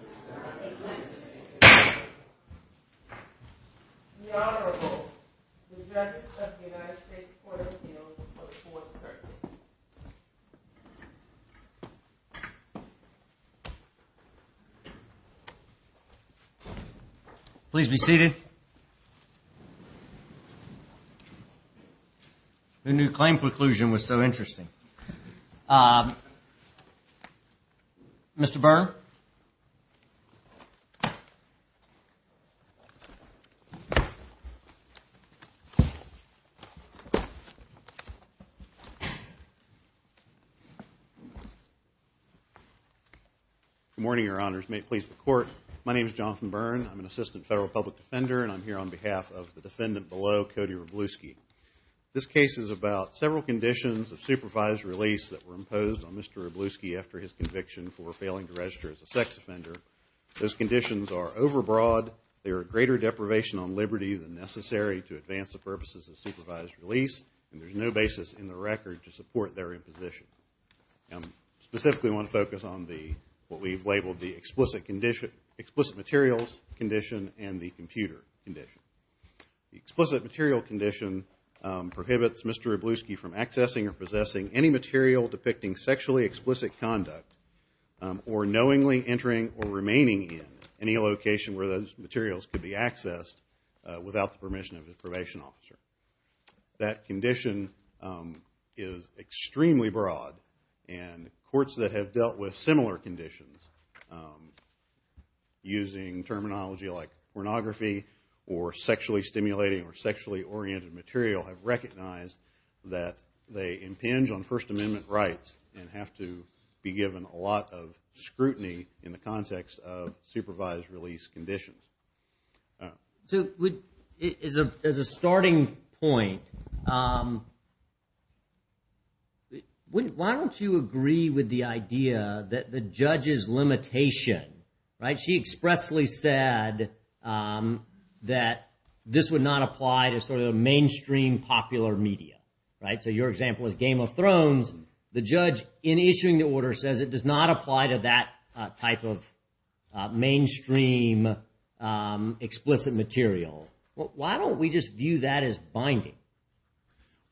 The Honorable Judge of the United States Court of Appeals for the Fourth Circuit. Please be seated. The new claim conclusion was so interesting. Mr. Byrne. Good morning, Your Honors. May it please the Court, my name is Jonathan Byrne. I'm an Assistant Federal Public Defender and I'm here on behalf of the defendant below, Cody Wroblewski. This case is about several conditions of supervised release that were imposed on Mr. Wroblewski after his conviction for failing to register as a sex offender. Those conditions are overbroad. They are a greater deprivation on liberty than necessary to advance the purposes of supervised release and there's no basis in the record to support their imposition. I specifically want to focus on what we've labeled the explicit materials condition and the computer condition. The explicit material condition prohibits Mr. Wroblewski from accessing or possessing any material depicting sexually explicit conduct or knowingly entering or remaining in any location where those materials could be accessed without the permission of his probation officer. That condition is extremely broad and courts that have dealt with similar conditions using terminology like pornography or sexually stimulating or sexually oriented material have recognized that they impinge on First Amendment rights and have to be given a lot of scrutiny in the context of supervised release conditions. So as a starting point, why don't you agree with the idea that the judge's limitation, right, she expressly said that this would not apply to sort of the mainstream popular media, right? So your example is Game of Thrones. The judge in issuing the order says it does not apply to that type of mainstream explicit material. Why don't we just view that as binding?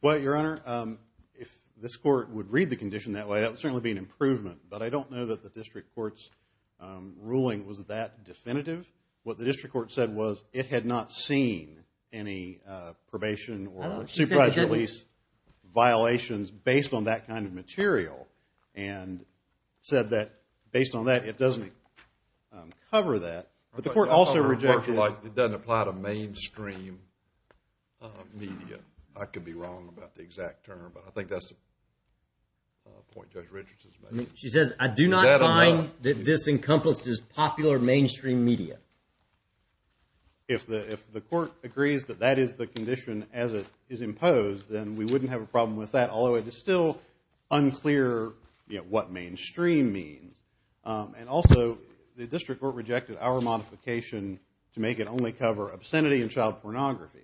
Well, Your Honor, if this court would read the condition that way, that would certainly be an improvement. But I don't know that the district court's ruling was that definitive. What the district court said was it had not seen any probation or supervised release violations based on that kind of material and said that based on that it doesn't cover that. But the court also rejected it. Your Honor, it doesn't apply to mainstream media. I could be wrong about the exact term, but I think that's the point Judge Richards is making. She says, I do not find that this encompasses popular mainstream media. If the court agrees that that is the condition as it is imposed, then we wouldn't have a problem with that, although it is still unclear what mainstream means. And also the district court rejected our modification to make it only cover obscenity and child pornography.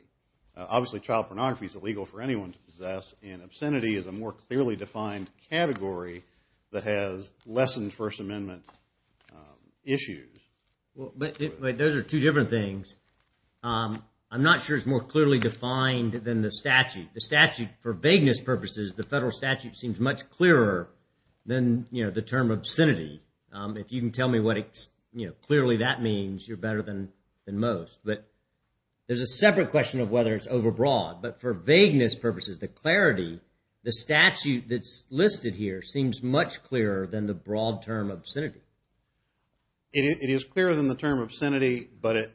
Obviously, child pornography is illegal for anyone to possess, and obscenity is a more clearly defined category that has lessened First Amendment issues. Those are two different things. I'm not sure it's more clearly defined than the statute. The statute, for vagueness purposes, the federal statute seems much clearer than the term obscenity. If you can tell me what clearly that means, you're better than most. But there's a separate question of whether it's overbroad. But for vagueness purposes, the clarity, the statute that's listed here seems much clearer than the broad term obscenity. It is clearer than the term obscenity, but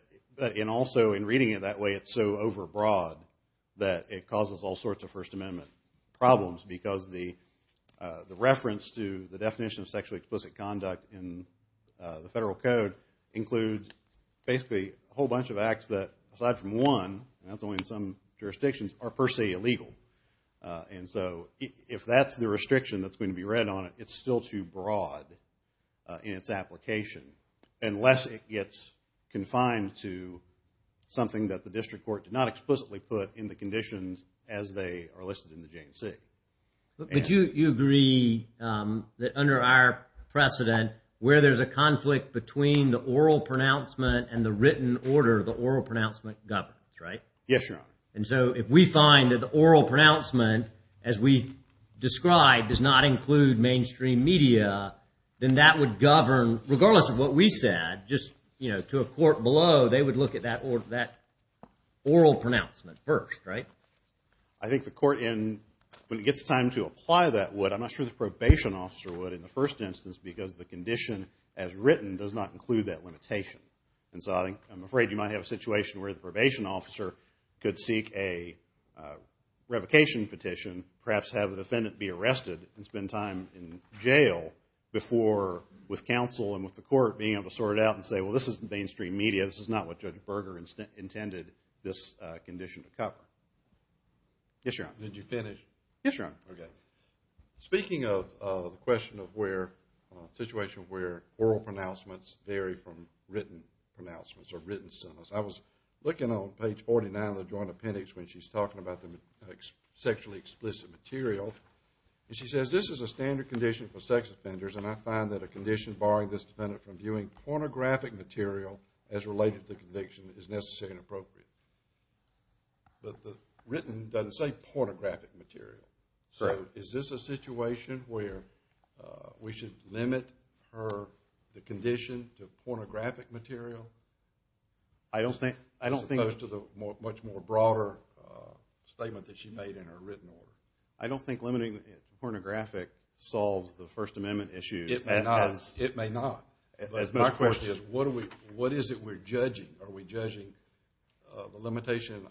also in reading it that way it's so overbroad that it causes all sorts of First Amendment problems because the reference to the definition of sexually explicit conduct in the federal code includes basically a whole bunch of acts that, aside from one, and that's only in some jurisdictions, are per se illegal. And so if that's the restriction that's going to be read on it, it's still too broad in its application, unless it gets confined to something that the district court did not explicitly put in the conditions as they are listed in the J&C. But you agree that under our precedent, where there's a conflict between the oral pronouncement and the written order, the oral pronouncement governs, right? Yes, Your Honor. And so if we find that the oral pronouncement, as we described, does not include mainstream media, then that would govern, regardless of what we said, just to a court below, they would look at that oral pronouncement first, right? I think the court, when it gets time to apply that, would. I'm not sure the probation officer would in the first instance because the condition as written does not include that limitation. And so I'm afraid you might have a situation where the probation officer could seek a revocation petition, perhaps have the defendant be arrested and spend time in jail before, with counsel and with the court, being able to sort it out and say, well, this isn't mainstream media. This is not what Judge Berger intended this condition to cover. Yes, Your Honor. Did you finish? Yes, Your Honor. Okay. Speaking of the question of where, a situation where oral pronouncements vary from written pronouncements or written sentence, I was looking on page 49 of the Joint Appendix when she's talking about the sexually explicit material, and she says, this is a standard condition for sex offenders, and I find that a condition barring this defendant from viewing pornographic material as related to the conviction is necessary and appropriate. But the written doesn't say pornographic material. So is this a situation where we should limit her, the condition, to pornographic material? I don't think. As opposed to the much more broader statement that she made in her written order. I don't think limiting it to pornographic solves the First Amendment issue. It may not. It may not. My question is, what is it we're judging? Are we judging the limitation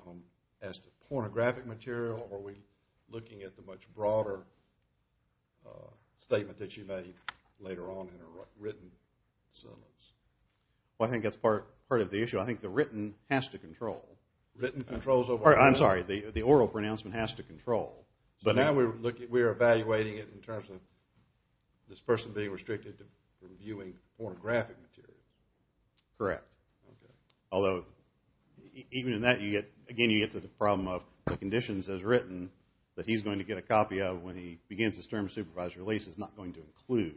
as to pornographic material, or are we looking at the much broader statement that she made later on in her written sentence? Well, I think that's part of the issue. I think the written has to control. Written controls over what? I'm sorry. The oral pronouncement has to control. But now we're evaluating it in terms of this person being restricted from viewing pornographic material. Correct. Although, even in that, again, you get to the problem of the conditions as written that he's going to get a copy of when he begins his term of supervised release is not going to include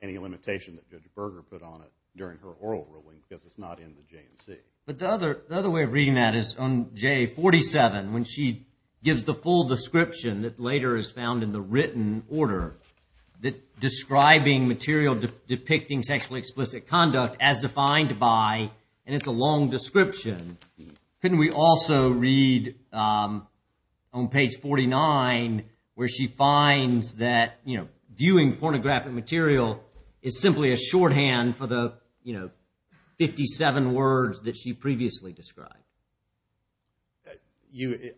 any limitation that Judge Berger put on it during her oral ruling because it's not in the J&C. But the other way of reading that is on J47, when she gives the full description that later is found in the written order describing material depicting sexually explicit conduct as defined by, and it's a long description, couldn't we also read on page 49 where she finds that viewing pornographic material is simply a shorthand for the 57 words that she previously described?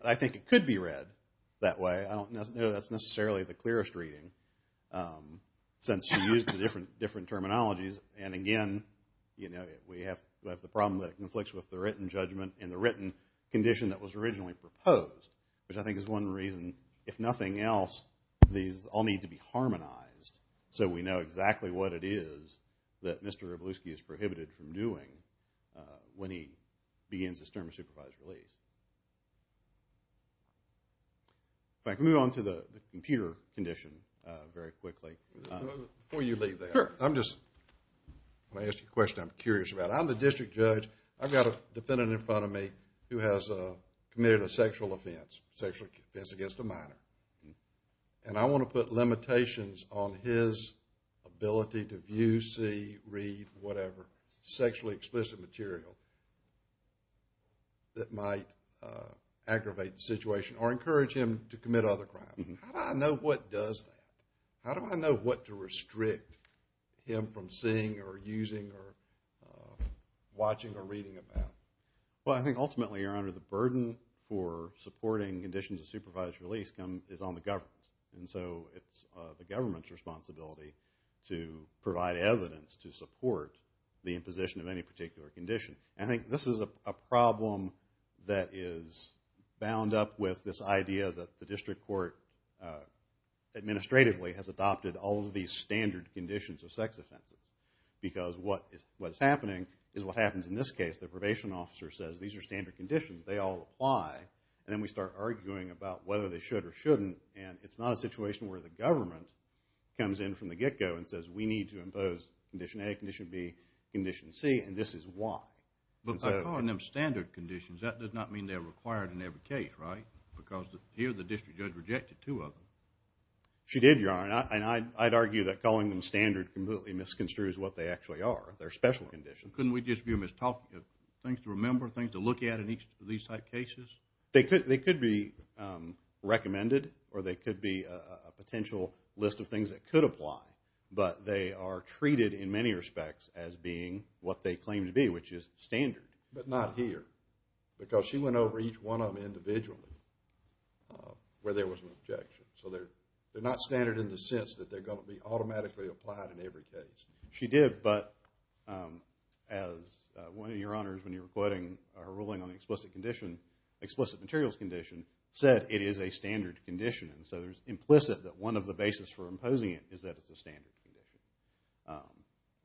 I think it could be read that way. I don't know that's necessarily the clearest reading since she used the different terminologies. And, again, we have the problem that it conflicts with the written judgment and the written condition that was originally proposed, which I think is one reason, if nothing else, these all need to be harmonized so we know exactly what it is that Mr. Rebluski is prohibited from doing when he begins his term of supervised release. If I could move on to the computer condition very quickly. Before you leave that, I'm just going to ask you a question I'm curious about. I'm the district judge. I've got a defendant in front of me who has committed a sexual offense, sexual offense against a minor, and I want to put limitations on his ability to view, see, read, whatever, sexually explicit material that might aggravate the situation or encourage him to commit other crimes. How do I know what does that? How do I know what to restrict him from seeing or using or watching or reading about? Well, I think ultimately, Your Honor, the burden for supporting conditions of supervised release is on the government. And so it's the government's responsibility to provide evidence to support the imposition of any particular condition. I think this is a problem that is bound up with this idea that the district court administratively has adopted all of these standard conditions of sex offenses because what is happening is what happens in this case. The probation officer says these are standard conditions. They all apply. And then we start arguing about whether they should or shouldn't, and it's not a situation where the government comes in from the get-go and says we need to impose Condition A, Condition B, Condition C, and this is why. But by calling them standard conditions, that does not mean they're required in every case, right? Because here the district judge rejected two of them. She did, Your Honor, and I'd argue that calling them standard completely misconstrues what they actually are. They're special conditions. Couldn't we just view them as things to remember, things to look at in each of these type cases? They could be recommended or they could be a potential list of things that could apply, but they are treated in many respects as being what they claim to be, which is standard, but not here. Because she went over each one of them individually where there was an objection. So they're not standard in the sense that they're going to be automatically applied in every case. She did, but as one of Your Honors, when you were quoting her ruling on the explicit materials condition, said it is a standard condition. So it's implicit that one of the basis for imposing it is that it's a standard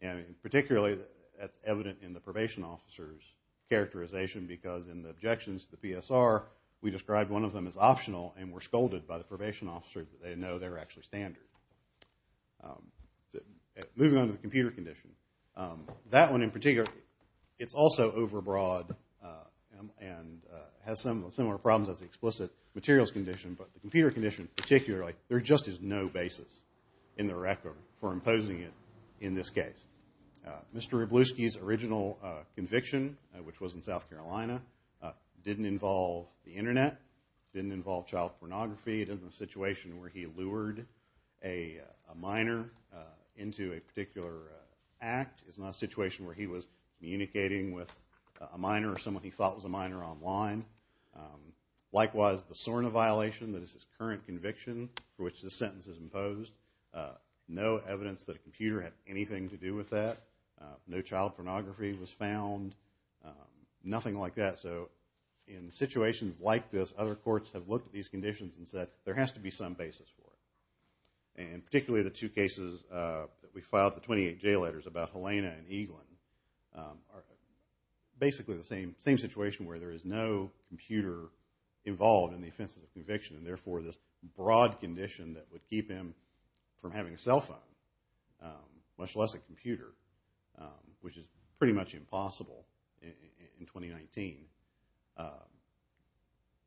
condition. And particularly that's evident in the probation officer's characterization because in the objections to the PSR, we described one of them as optional and were scolded by the probation officer that they know they're actually standard. Moving on to the computer condition. That one in particular, it's also overbroad and has some similar problems as the explicit materials condition, but the computer condition particularly, there just is no basis in the record for imposing it in this case. Mr. Rebluski's original conviction, which was in South Carolina, didn't involve the Internet, didn't involve child pornography. It isn't a situation where he lured a minor into a particular act. It's not a situation where he was communicating with a minor or someone he thought was a minor online. Likewise, the SORNA violation, that is his current conviction for which this sentence is imposed, no evidence that a computer had anything to do with that, no child pornography was found, nothing like that. So in situations like this, other courts have looked at these conditions and said there has to be some basis for it. And particularly the two cases that we filed, the 28 J letters about Helena and Eaglin, are basically the same situation where there is no computer involved in the offenses of conviction, and therefore this broad condition that would keep him from having a cell phone, much less a computer, which is pretty much impossible in 2019,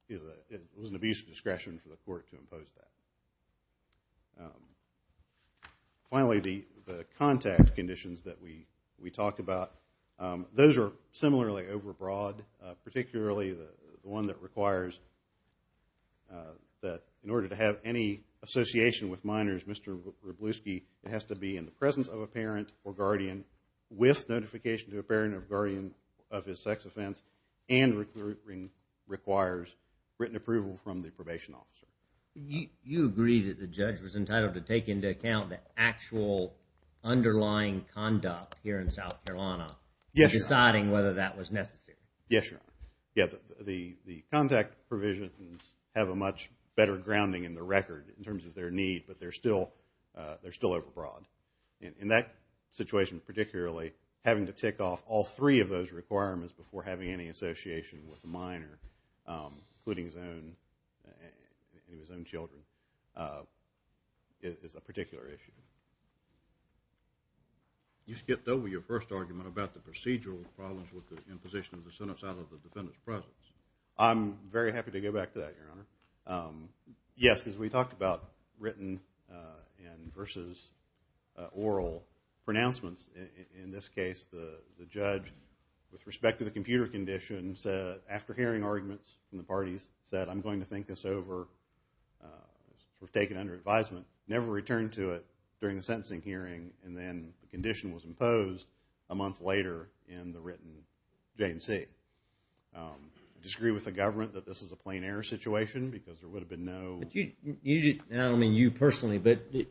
it was an abuse of discretion for the court to impose that. Finally, the contact conditions that we talked about, those are similarly overbroad, particularly the one that requires that in order to have any association with minors, Mr. Wroblewski, it has to be in the presence of a parent or guardian with notification to a parent or guardian of his sex offense and requires written approval from the probation officer. You agree that the judge was entitled to take into account the actual underlying conduct here in South Carolina, deciding whether that was necessary. Yes, Your Honor. The contact provisions have a much better grounding in the record in terms of their need, but they're still overbroad. In that situation particularly, having to tick off all three of those requirements before having any association with a minor, including his own children, is a particular issue. You skipped over your first argument about the procedural problems with the imposition of the sentence out of the defendant's presence. I'm very happy to go back to that, Your Honor. Yes, because we talked about written versus oral pronouncements. In this case, the judge, with respect to the computer conditions, after hearing arguments from the parties, said, I'm going to think this over, take it under advisement, never returned to it during the sentencing hearing, and then the condition was imposed a month later in the written J&C. I disagree with the government that this is a plain error situation because there would have been no... I don't mean you personally, but the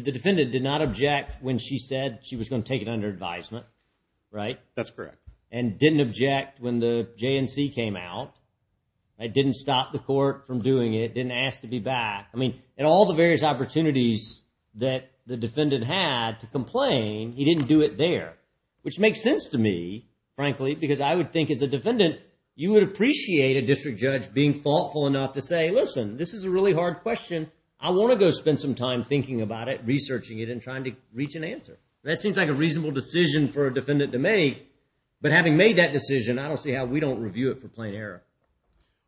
defendant did not object when she said she was going to take it under advisement, right? That's correct. And didn't object when the J&C came out. It didn't stop the court from doing it, didn't ask to be back. I mean, in all the various opportunities that the defendant had to complain, he didn't do it there, which makes sense to me, frankly, because I would think, as a defendant, you would appreciate a district judge being thoughtful enough to say, listen, this is a really hard question. I want to go spend some time thinking about it, researching it, and trying to reach an answer. That seems like a reasonable decision for a defendant to make, but having made that decision, I don't see how we don't review it for plain error.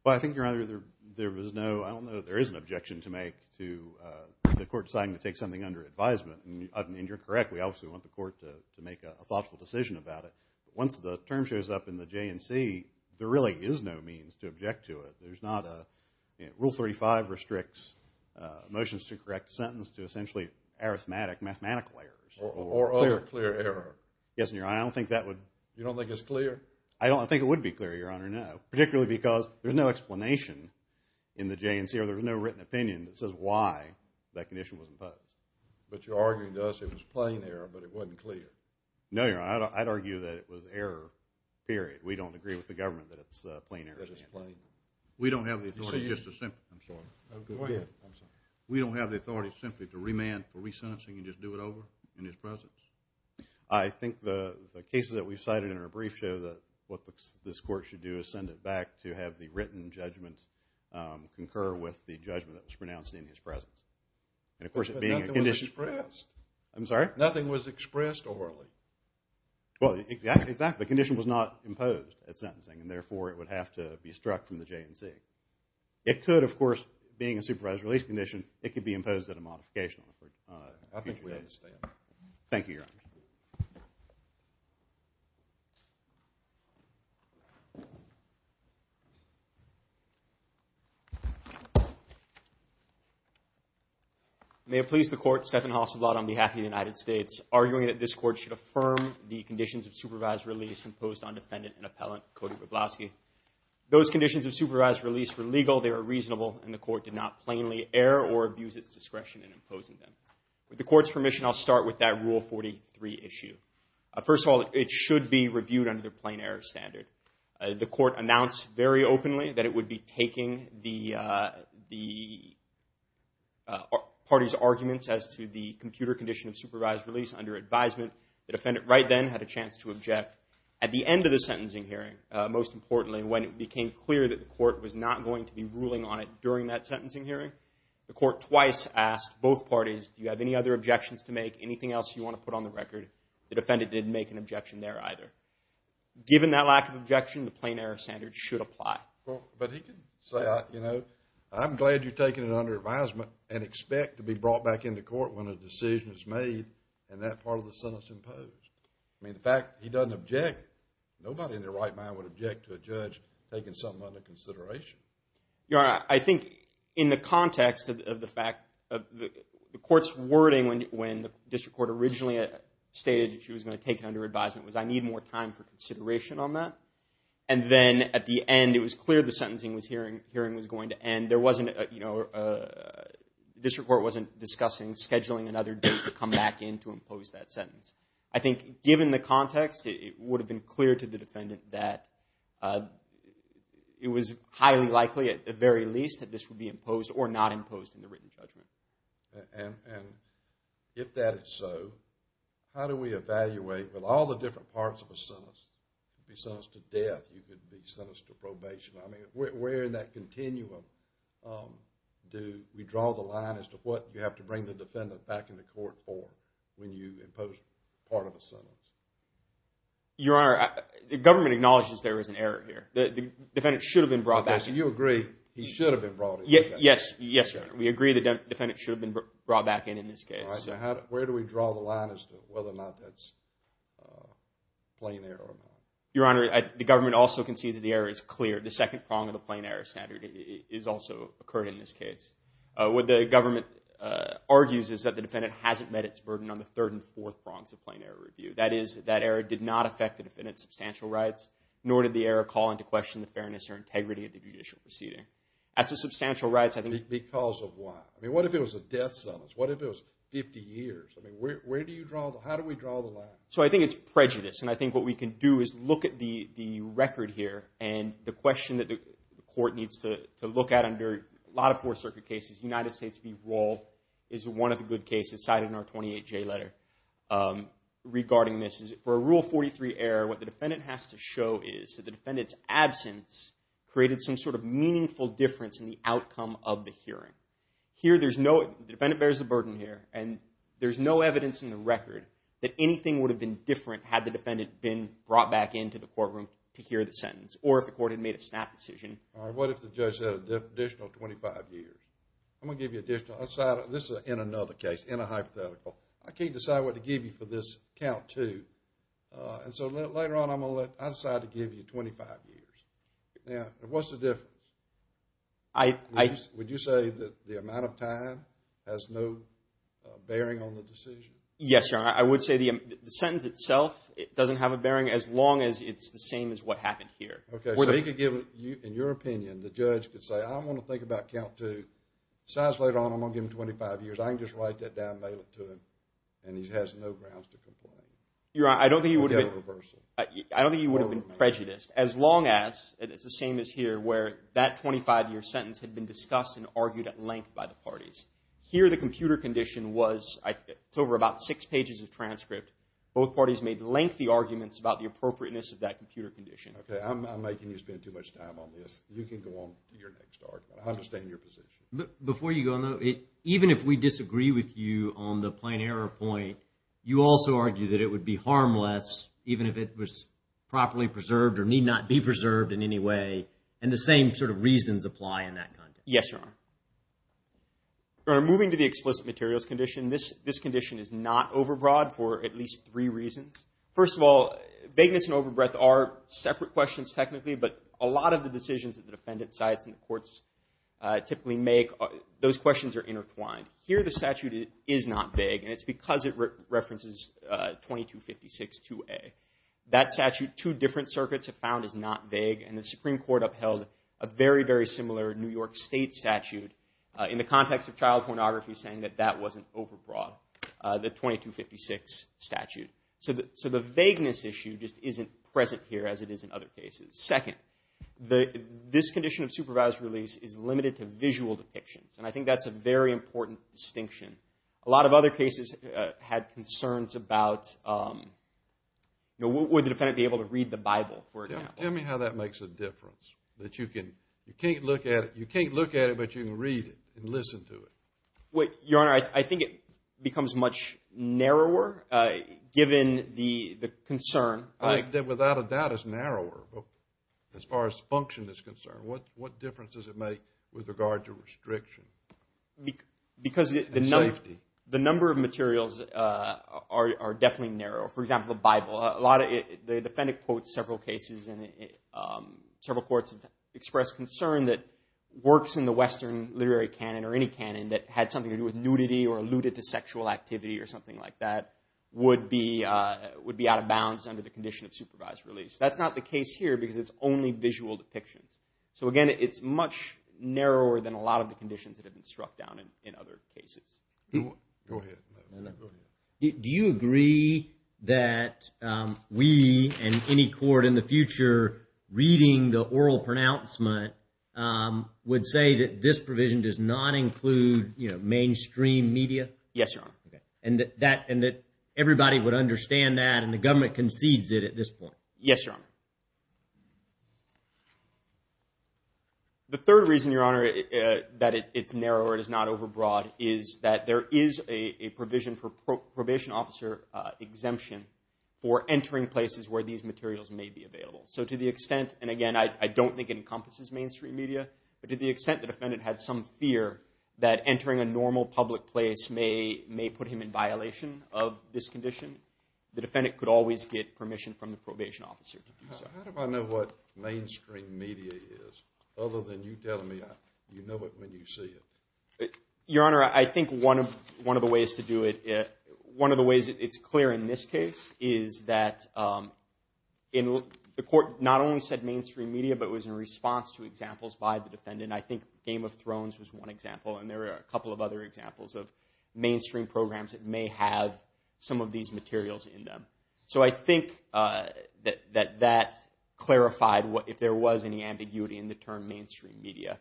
Well, I think, Your Honor, there was no... I don't know that there is an objection to make to the court deciding to take something under advisement, and you're correct. We obviously want the court to make a thoughtful decision about it. Once the term shows up in the J&C, there really is no means to object to it. There's not a... Rule 35 restricts motions to correct sentence to essentially arithmetic, mathematical errors. Or other clear error. Yes, Your Honor, I don't think that would... You don't think it's clear? I don't think it would be clear, Your Honor, no, particularly because there's no explanation in the J&C, or there's no written opinion that says why that condition was imposed. But you're arguing to us it was plain error, but it wasn't clear. No, Your Honor, I'd argue that it was error, period. We don't agree with the government that it's plain error. We don't have the authority just to simply... I'm sorry. Go ahead. I'm sorry. We don't have the authority simply to remand for resentencing and just do it over in his presence. I think the cases that we've cited in our brief show that what this court should do is send it back to have the written judgment concur with the judgment that was pronounced in his presence. And, of course, it being a condition... But nothing was expressed. I'm sorry? Nothing was expressed orally. Well, exactly. The condition was not imposed at sentencing, and therefore it would have to be struck from the J&C. It could, of course, being a supervised release condition, it could be imposed at a modification. I think we understand. Thank you, Your Honor. May it please the Court, Stephen Hasselblad on behalf of the United States, arguing that this Court should affirm the conditions of supervised release imposed on defendant and appellant Cody Wroblowski. Those conditions of supervised release were legal, they were reasonable, and the Court did not plainly err or abuse its discretion in imposing them. With the Court's permission, I'll start with that Rule 43 issue. First of all, it should be reviewed under the plain error standard. The Court announced very openly that it would be taking the party's arguments as to the computer condition of supervised release under advisement. The defendant right then had a chance to object. At the end of the sentencing hearing, most importantly, when it became clear that the Court was not going to be ruling on it during that sentencing hearing, the Court twice asked both parties, do you have any other objections to make, anything else you want to put on the record? The defendant didn't make an objection there either. Given that lack of objection, the plain error standard should apply. But he can say, you know, I'm glad you're taking it under advisement and expect to be brought back into court when a decision is made and that part of the sentence imposed. I mean, the fact that he doesn't object, nobody in their right mind would object to a judge taking something under consideration. Your Honor, I think in the context of the fact of the Court's wording when the District Court originally stated that she was going to take it under advisement was I need more time for consideration on that. And then at the end, it was clear the sentencing hearing was going to end. There wasn't, you know, the District Court wasn't discussing scheduling another date to come back in to impose that sentence. I think given the context, it would have been clear to the defendant that it was highly likely at the very least that this would be imposed or not imposed in the written judgment. And if that is so, how do we evaluate with all the different parts of a sentence? You could be sentenced to death. You could be sentenced to probation. I mean, where in that continuum do we draw the line as to what you have to bring the defendant back into court for when you impose part of a sentence? Your Honor, the government acknowledges there is an error here. The defendant should have been brought back in. Okay, so you agree he should have been brought in. Yes, yes, Your Honor. We agree the defendant should have been brought back in in this case. All right, so where do we draw the line as to whether or not that's plain error or not? Your Honor, the government also concedes that the error is clear. The second prong of the plain error standard has also occurred in this case. What the government argues is that the defendant hasn't met its burden on the third and fourth prongs of plain error review. That is, that error did not affect the defendant's substantial rights, nor did the error call into question the fairness or integrity of the judicial proceeding. As to substantial rights, I think... Because of what? I mean, what if it was a death sentence? What if it was 50 years? I mean, where do you draw the line? How do we draw the line? So I think it's prejudice, and I think what we can do is look at the record here and the question that the court needs to look at under a lot of Fourth Circuit cases. United States v. Roll is one of the good cases cited in our 28J letter. Regarding this, for a Rule 43 error, what the defendant has to show is that the defendant's absence created some sort of meaningful difference in the outcome of the hearing. Here, there's no... The defendant bears the burden here, and there's no evidence in the record that anything would have been different had the defendant been brought back into the courtroom to hear the sentence, or if the court had made a snap decision. All right, what if the judge said an additional 25 years? I'm going to give you additional... This is in another case, in a hypothetical. I can't decide what to give you for this count, too. And so later on, I'm going to let... I decide to give you 25 years. Now, what's the difference? I... Would you say that the amount of time has no bearing on the decision? Yes, Your Honor. I would say the sentence itself doesn't have a bearing as long as it's the same as what happened here. Okay, so he could give... In your opinion, the judge could say, I don't want to think about count two. Besides, later on, I'm going to give him 25 years. I can just write that down, mail it to him, and he has no grounds to complain. Your Honor, I don't think he would have been... I don't think he would have been prejudiced, as long as it's the same as here, where that 25-year sentence had been discussed and argued at length by the parties. Here, the computer condition was... It's over about six pages of transcript. Both parties made lengthy arguments about the appropriateness of that computer condition. Okay, I'm making you spend too much time on this. You can go on to your next argument. I understand your position. Before you go, even if we disagree with you on the plain error point, you also argue that it would be harmless even if it was properly preserved or need not be preserved in any way, and the same sort of reasons apply in that context. Yes, Your Honor. Your Honor, moving to the explicit materials condition, this condition is not overbroad for at least three reasons. First of all, vagueness and overbreath are separate questions technically, but a lot of the decisions that the defendant cites and the courts typically make, those questions are intertwined. Here, the statute is not vague, and it's because it references 2256-2A. That statute, two different circuits have found, is not vague, and the Supreme Court upheld a very, very similar New York State statute in the context of child pornography, saying that that wasn't overbroad, the 2256 statute. So the vagueness issue just isn't present here as it is in other cases. Second, this condition of supervised release is limited to visual depictions, and I think that's a very important distinction. A lot of other cases had concerns about, would the defendant be able to read the Bible, for example? Tell me how that makes a difference, that you can't look at it, but you can read it and listen to it. Your Honor, I think it becomes much narrower given the concern. I think that, without a doubt, it's narrower. As far as function is concerned, what difference does it make with regard to restriction? Because the number of materials are definitely narrow. For example, the Bible. The defendant quotes several cases, and several courts have expressed concern that works in the Western literary canon, or any canon, that had something to do with nudity or alluded to sexual activity or something like that, would be out of bounds under the condition of supervised release. That's not the case here because it's only visual depictions. So again, it's much narrower than a lot of the conditions that have been struck down in other cases. Go ahead. Do you agree that we and any court in the future reading the oral pronouncement would say that this provision does not include mainstream media? Yes, Your Honor. And that everybody would understand that and the government concedes it at this point? Yes, Your Honor. The third reason, Your Honor, that it's narrower, it is not overbroad, is that there is a provision for probation officer exemption for entering places where these materials may be available. So to the extent, and again, I don't think it encompasses mainstream media, but to the extent the defendant had some fear that entering a normal public place may put him in violation of this condition, the defendant could always get permission from the probation officer to do so. How do I know what mainstream media is other than you telling me you know it when you see it? Your Honor, I think one of the ways to do it, one of the ways it's clear in this case is that the court not only said mainstream media, but it was in response to examples by the defendant. And I think Game of Thrones was one example, and there are a couple of other examples of mainstream programs that may have some of these materials in them. So I think that that clarified if there was any ambiguity in the term mainstream media.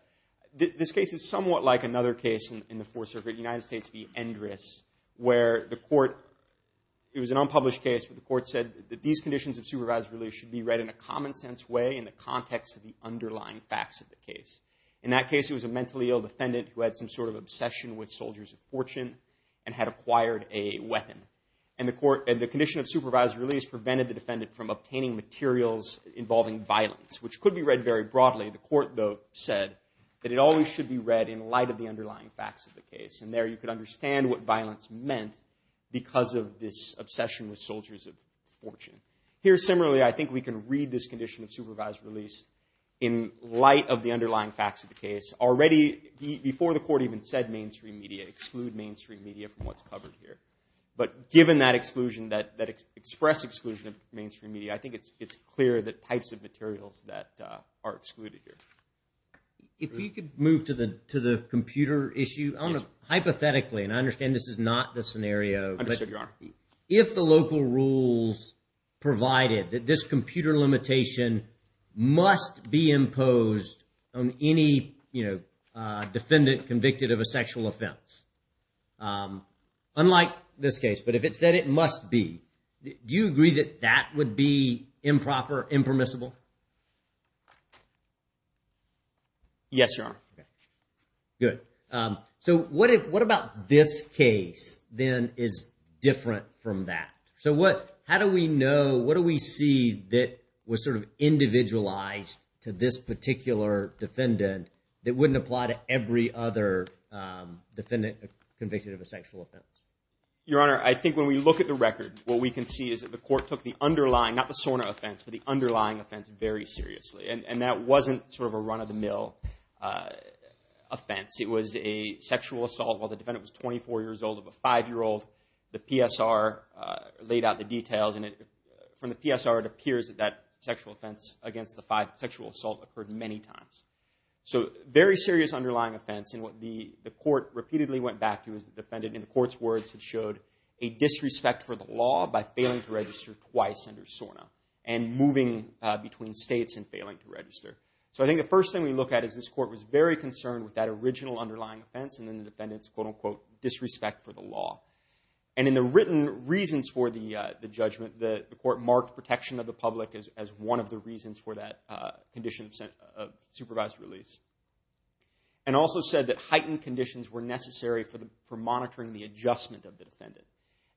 This case is somewhat like another case in the Fourth Circuit, United States v. Endress, where the court, it was an unpublished case, but the court said that these conditions of supervised release should be read in a common-sense way in the context of the underlying facts of the case. In that case, it was a mentally ill defendant who had some sort of obsession with soldiers of fortune and had acquired a weapon. And the condition of supervised release prevented the defendant from obtaining materials involving violence, which could be read very broadly. The court, though, said that it always should be read in light of the underlying facts of the case. And there you could understand what violence meant because of this obsession with soldiers of fortune. Here, similarly, I think we can read this condition of supervised release in light of the underlying facts of the case. Already, before the court even said mainstream media, exclude mainstream media from what's covered here. But given that exclusion, that express exclusion of mainstream media, I think it's clear the types of materials that are excluded here. If we could move to the computer issue. Yes. Hypothetically, and I understand this is not the scenario. Understood, Your Honor. If the local rules provided that this computer limitation must be imposed on any defendant convicted of a sexual offense, unlike this case, but if it said it must be, do you agree that that would be improper, impermissible? Yes, Your Honor. Good. So what about this case, then, is different from that? So how do we know, what do we see that was sort of individualized to this particular defendant that wouldn't apply to every other defendant convicted of a sexual offense? Your Honor, I think when we look at the record, what we can see is that the court took the underlying, not the SORNA offense, but the underlying offense very seriously. And that wasn't sort of a run-of-the-mill offense. It was a sexual assault while the defendant was 24 years old of a five-year-old. The PSR laid out the details, and from the PSR it appears that that sexual offense against the five, sexual assault, occurred many times. So very serious underlying offense. And what the court repeatedly went back to is the defendant, in the court's words, had showed a disrespect for the law by failing to register twice under SORNA and moving between states and failing to register. So I think the first thing we look at is this court was very concerned with that original underlying offense and then the defendant's quote-unquote disrespect for the law. And in the written reasons for the judgment, the court marked protection of the public as one of the reasons for that condition of supervised release. And also said that heightened conditions were necessary for monitoring the adjustment of the defendant.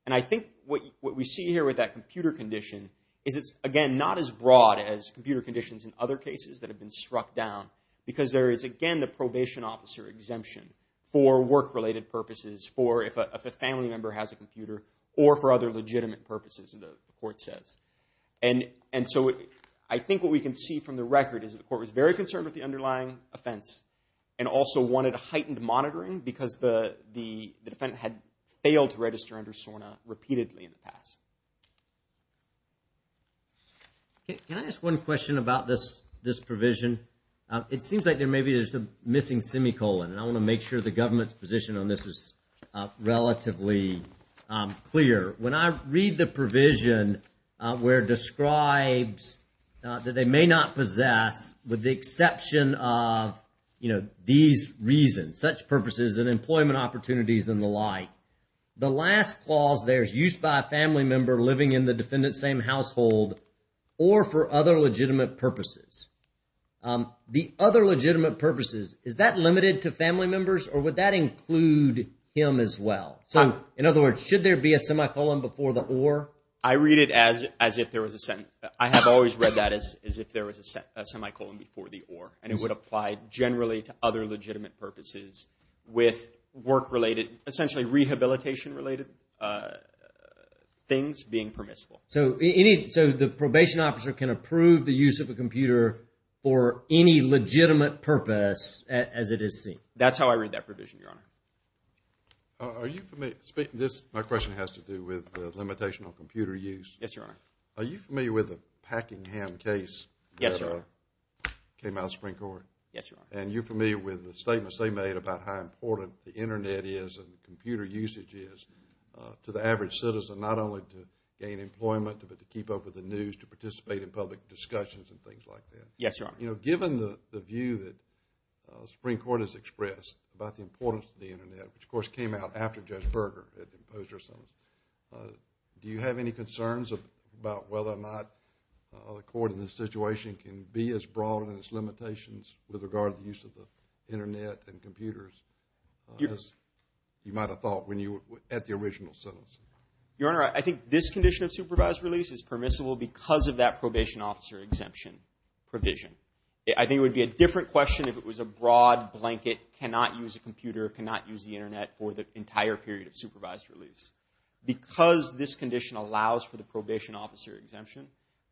And I think what we see here with that computer condition is it's, again, not as broad as computer conditions in other cases that have been struck down because there is, again, a probation officer exemption for work-related purposes, for if a family member has a computer, or for other legitimate purposes, the court says. And so I think what we can see from the record is that the court was very concerned with the underlying offense and also wanted heightened monitoring because the defendant had failed to register under SORNA repeatedly in the past. Can I ask one question about this provision? It seems like maybe there's a missing semicolon, and I want to make sure the government's position on this is relatively clear. When I read the provision where it describes that they may not possess, with the exception of these reasons, such purposes as employment opportunities and the like, the last clause there is used by a family member living in the defendant's same household or for other legitimate purposes. The other legitimate purposes, is that limited to family members, or would that include him as well? So in other words, should there be a semicolon before the or? I read it as if there was a sentence. I have always read that as if there was a semicolon before the or, and it would apply generally to other legitimate purposes with work-related, essentially rehabilitation-related things being permissible. So the probation officer can approve the use of a computer for any legitimate purpose as it is seen. That's how I read that provision, Your Honor. Are you familiar? My question has to do with the limitation on computer use. Yes, Your Honor. Are you familiar with the Packingham case that came out of the Supreme Court? Yes, Your Honor. And you're familiar with the statements they made about how important the Internet is and computer usage is to the average citizen, not only to gain employment, but to keep up with the news, to participate in public discussions and things like that. Yes, Your Honor. You know, given the view that the Supreme Court has expressed about the importance of the Internet, which of course came out after Judge Berger had imposed her sentence, do you have any concerns about whether or not the Court in this situation can be as broad in its limitations with regard to the use of the Internet and computers as you might have thought at the original sentence? Your Honor, I think this condition of supervised release is permissible because of that probation officer exemption provision. I think it would be a different question if it was a broad blanket, cannot use a computer, cannot use the Internet for the entire period of supervised release. Because this condition allows for the probation officer exemption,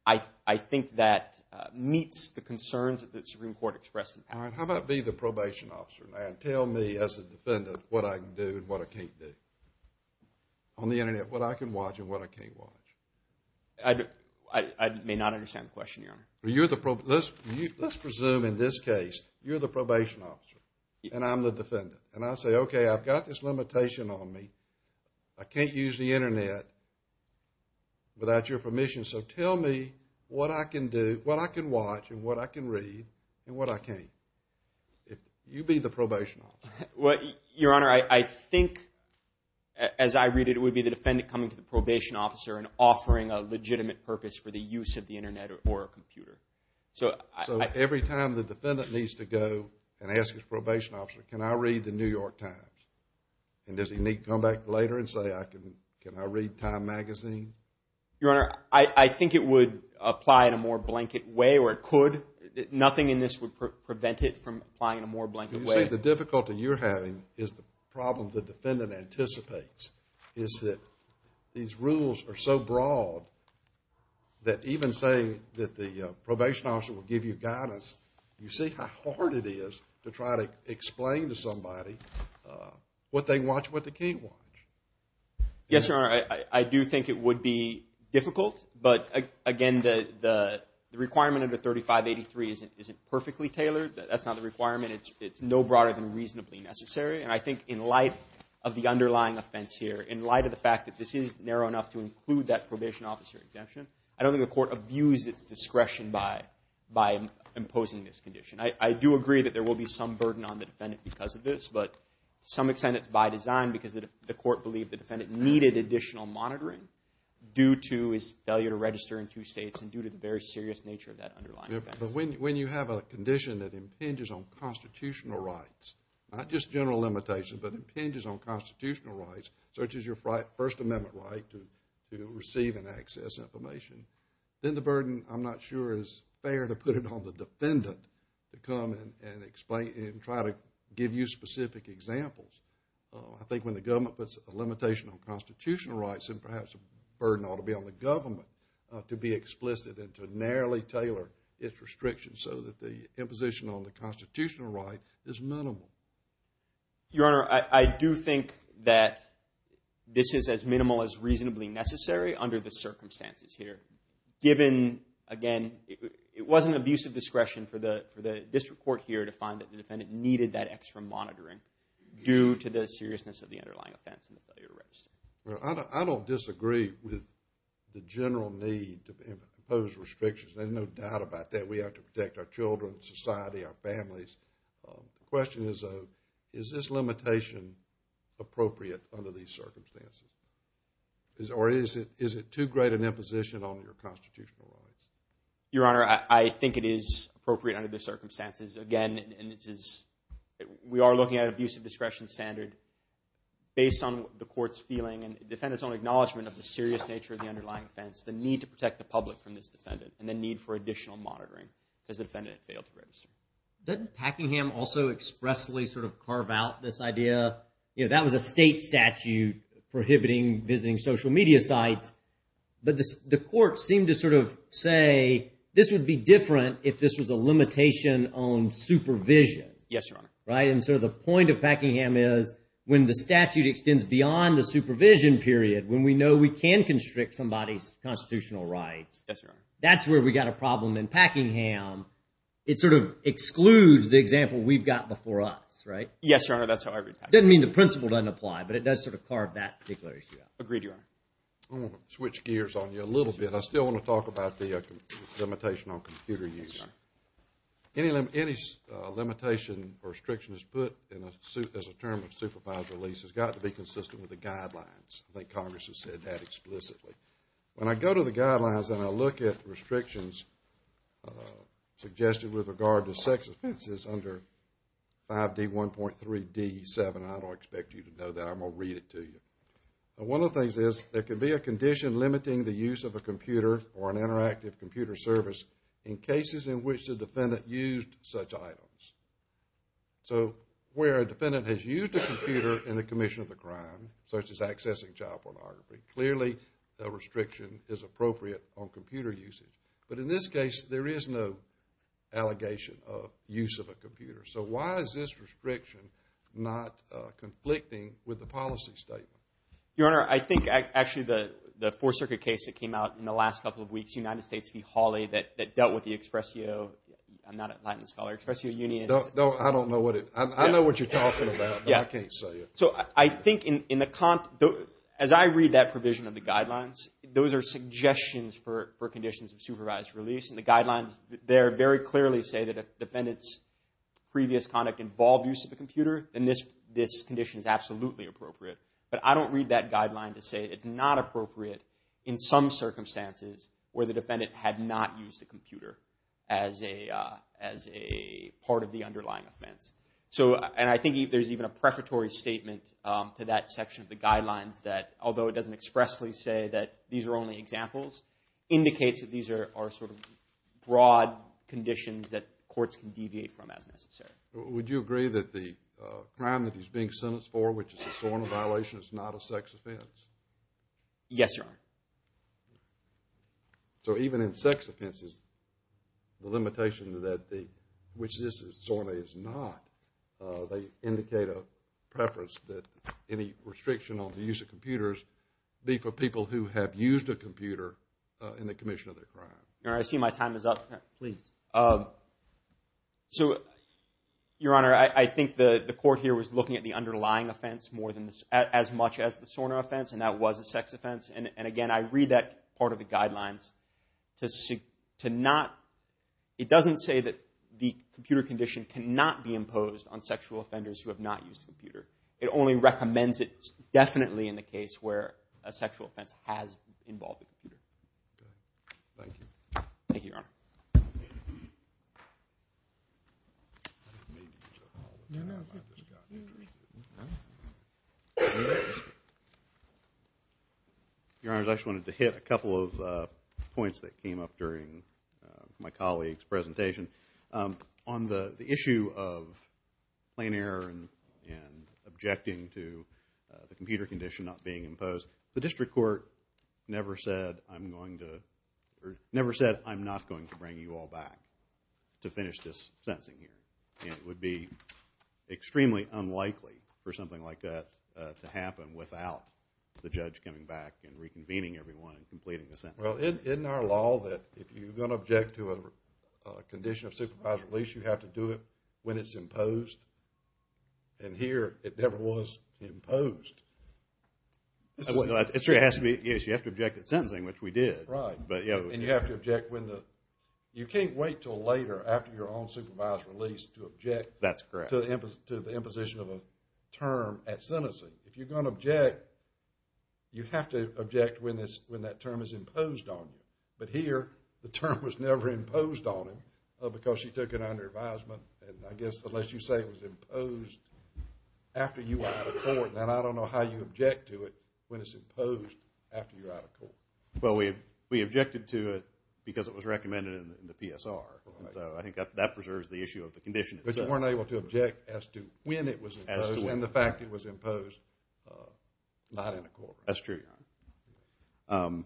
I think that meets the concerns that the Supreme Court expressed in Packingham. All right, how about be the probation officer now and tell me as a defendant what I can do and what I can't do on the Internet, what I can watch and what I can't watch? I may not understand the question, Your Honor. Let's presume in this case you're the probation officer and I'm the defendant. And I say, okay, I've got this limitation on me. I can't use the Internet without your permission. So tell me what I can do, what I can watch and what I can read and what I can't. You be the probation officer. Well, Your Honor, I think as I read it, it would be the defendant coming to the probation officer and offering a legitimate purpose for the use of the Internet or a computer. So every time the defendant needs to go and ask his probation officer, can I read the New York Times? And does he need to come back later and say, can I read Time magazine? Your Honor, I think it would apply in a more blanket way or it could. Nothing in this would prevent it from applying in a more blanket way. You say the difficulty you're having is the problem the defendant anticipates is that these rules are so broad that even saying that the probation officer will give you guidance, you see how hard it is to try to explain to somebody what they can watch and what they can't watch. Yes, Your Honor, I do think it would be difficult. But again, the requirement under 3583 isn't perfectly tailored. That's not the requirement. It's no broader than reasonably necessary. And I think in light of the underlying offense here, in light of the fact that this is narrow enough to include that probation officer exemption, I don't think the court abused its discretion by imposing this condition. I do agree that there will be some burden on the defendant because of this, but to some extent it's by design because the court believed the defendant needed additional monitoring due to his failure to register in two states and due to the very serious nature of that underlying offense. But when you have a condition that impinges on constitutional rights, not just general limitations, but impinges on constitutional rights, such as your First Amendment right to receive and access information, then the burden, I'm not sure, is fair to put it on the defendant to come and try to give you specific examples. I think when the government puts a limitation on constitutional rights, then perhaps the burden ought to be on the government to be explicit and to narrowly tailor its restrictions so that the imposition on the constitutional right is minimal. Your Honor, I do think that this is as minimal as reasonably necessary under the circumstances here. Given, again, it wasn't abusive discretion for the district court here to find that the defendant needed that extra monitoring due to the seriousness of the underlying offense and the failure to register. I don't disagree with the general need to impose restrictions. There's no doubt about that. We have to protect our children, society, our families. The question is, though, is this limitation appropriate under these circumstances? Or is it too great an imposition on your constitutional rights? Your Honor, I think it is appropriate under the circumstances. Again, we are looking at an abusive discretion standard based on the court's feeling and the defendant's own acknowledgement of the serious nature of the underlying offense, the need to protect the public from this defendant, and the need for additional monitoring because the defendant failed to register. Didn't Packingham also expressly sort of carve out this idea? You know, that was a state statute prohibiting visiting social media sites. But the court seemed to sort of say this would be different if this was a limitation on supervision. Yes, Your Honor. Right? And so the point of Packingham is when the statute extends beyond the supervision period, when we know we can constrict somebody's and that's where we got a problem in Packingham, it sort of excludes the example we've got before us, right? Yes, Your Honor, that's how I read Packingham. Doesn't mean the principle doesn't apply, but it does sort of carve that particular issue out. Agreed, Your Honor. I want to switch gears on you a little bit. I still want to talk about the limitation on computer use. Yes, Your Honor. Any limitation or restriction that's put in a suit as a term of supervisory lease I think Congress has said that explicitly. When I go to the guidelines and I look at restrictions suggested with regard to sex offenses under 5D1.3D7, I don't expect you to know that. I'm going to read it to you. One of the things is there could be a condition limiting the use of a computer or an interactive computer service in cases in which the defendant used such items. So where a defendant has used a computer in the commission of a crime, such as accessing child pornography, clearly a restriction is appropriate on computer usage. But in this case, there is no allegation of use of a computer. So why is this restriction not conflicting with the policy statement? Your Honor, I think actually the Fourth Circuit case that came out in the last couple of weeks, United States v. Hawley, that dealt with the Expresio, I'm not a Latin scholar, Expresio Unionist. No, I don't know what it, I know what you're talking about, but I can't say it. So I think in the, as I read that provision of the guidelines, those are suggestions for conditions of supervised release. And the guidelines there very clearly say that if defendant's previous conduct involved use of a computer, then this condition is absolutely appropriate. But I don't read that guideline to say it's not appropriate in some circumstances where the defendant had not used a computer as a part of the underlying offense. And I think there's even a prefatory statement to that section of the guidelines that although it doesn't expressly say that these are only examples, indicates that these are sort of broad conditions that courts can deviate from as necessary. Would you agree that the crime that he's being sentenced for, which is a SORNA violation, is not a sex offense? Yes, Your Honor. So even in sex offenses, the limitation to that, which this SORNA is not, they indicate a preference that any restriction on the use of computers be for people who have used a computer in the commission of their crime. Your Honor, I see my time is up. Please. So, Your Honor, I think the court here was looking at the underlying offense as much as the SORNA offense, and that was a sex offense. And again, I read that part of the guidelines to not... It doesn't say that the computer condition cannot be imposed on sexual offenders who have not used a computer. It only recommends it definitely in the case where a sexual offense has involved a computer. Thank you. Thank you, Your Honor. Your Honor, I just wanted to hit a couple of points that came up during my colleague's presentation. On the issue of plain error and objecting to the computer condition not being imposed, the district court never said, I'm not going to bring you all back to finish this sentencing here. And it would be extremely unlikely for something like that to happen without the judge coming back and reconvening everyone and completing the sentence. Well, in our law, if you're going to object to a condition of supervised release, you have to do it when it's imposed. And here, it never was imposed. It has to be... Yes, you have to object at sentencing, which we did. Right. And you have to object when the... You can't wait till later after your own supervised release to object to the imposition of a term at sentencing. If you're going to object, you have to object when that term is imposed on you. But here, the term was never imposed on him because she took it under advisement. And I guess unless you say it was imposed after you were out of court, then I don't know how you object to it when it's imposed after you're out of court. Well, we objected to it because it was recommended in the PSR. So I think that preserves the issue of the condition itself. But you weren't able to object as to when it was imposed and the fact it was imposed not in a court. That's true, Your Honor.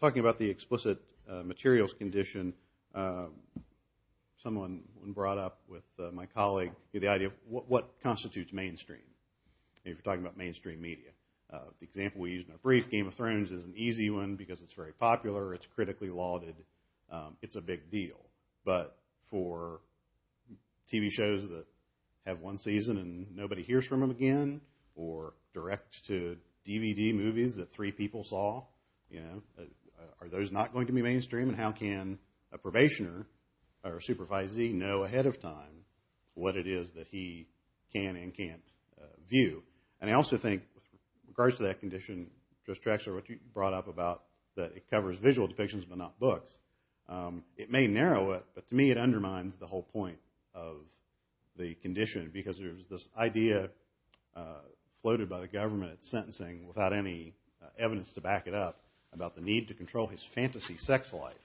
Talking about the explicit materials condition, someone brought up with my colleague the idea of what constitutes mainstream if you're talking about mainstream media. The example we used in our brief, Game of Thrones is an easy one because it's very popular. It's critically lauded. It's a big deal. But for TV shows that have one season and nobody hears from them again or direct-to-DVD movies that three people saw, are those not going to be mainstream? And how can a probationer or a supervisee know ahead of time what it is that he can and can't view? And I also think with regards to that condition, Judge Traxler, what you brought up about that it covers visual depictions but not books, it may narrow it, but to me it undermines the whole point of the condition because there's this idea floated by the government at sentencing without any evidence to back it up about the need to control his fantasy sex life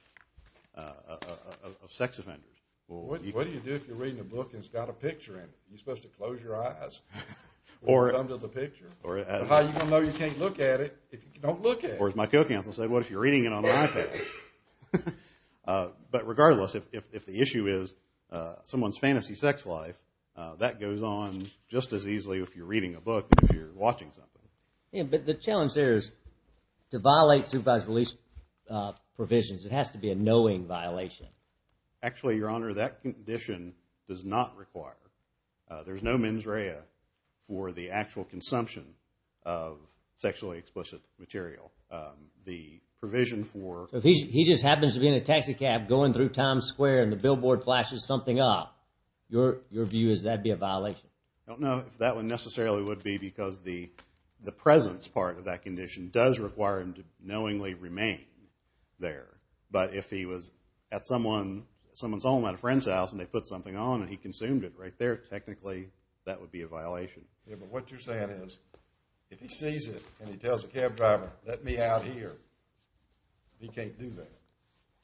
of sex offenders. What do you do if you're reading a book and it's got a picture in it? Are you supposed to close your eyes when it comes to the picture? How are you going to know you can't look at it if you don't look at it? Or as my co-counsel said, what if you're reading it on a iPad? But regardless, if the issue is someone's fantasy sex life, that goes on just as easily if you're reading a book as if you're watching something. But the challenge there is to violate supervised release provisions, it has to be a knowing violation. Actually, Your Honor, that condition does not require. There's no mens rea for the actual consumption of sexually explicit material. The provision for... If he just happens to be in a taxi cab going through Times Square and the billboard flashes something up, your view is that would be a violation? I don't know if that one necessarily would be because the presence part of that condition does require him to knowingly remain there. But if he was at someone's home at a friend's house and they put something on and he consumed it right there, technically that would be a violation. Yeah, but what you're saying is if he sees it and he tells the cab driver, let me out here, he can't do that.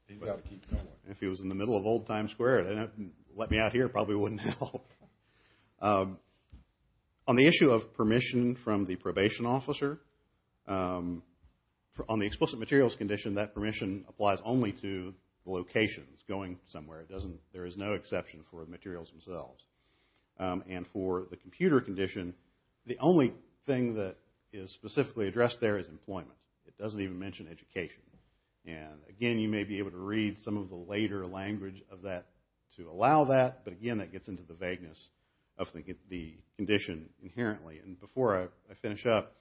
He's got to keep going. If he was in the middle of old Times Square, let me out here probably wouldn't help. On the issue of permission from the probation officer, on the explicit materials condition, that permission applies only to locations, going somewhere. There is no exception for materials themselves. And for the computer condition, the only thing that is specifically addressed there is employment. It doesn't even mention education. And again, you may be able to read some of the later language of that to allow that. But again, that gets into the vagueness of the condition inherently. And before I finish up,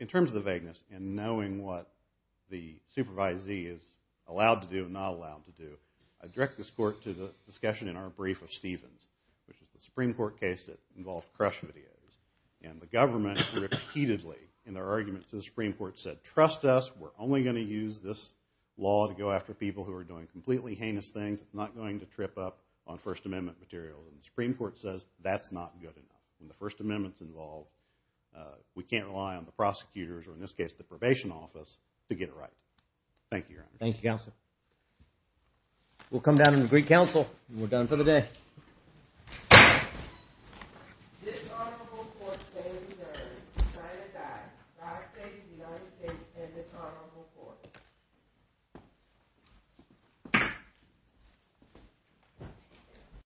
in terms of the vagueness and knowing what the supervisee is allowed to do and not allowed to do, I direct this court to the discussion in our brief of Stevens, which is the Supreme Court case that involved crush videos. And the government repeatedly in their argument to the Supreme Court said, trust us, we're only going to use this law to go after people who are doing completely heinous things. It's not going to trip up on First Amendment material. And the Supreme Court says, that's not good enough. When the First Amendment's involved, we can't rely on the prosecutors, or in this case, the probation office, to get it right. Thank you, Your Honor. Thank you, Counsel. We'll come down and agree counsel, and we're done for the day. This honorable court stays adjourned. And with that, I thank the honorable case and this honorable court.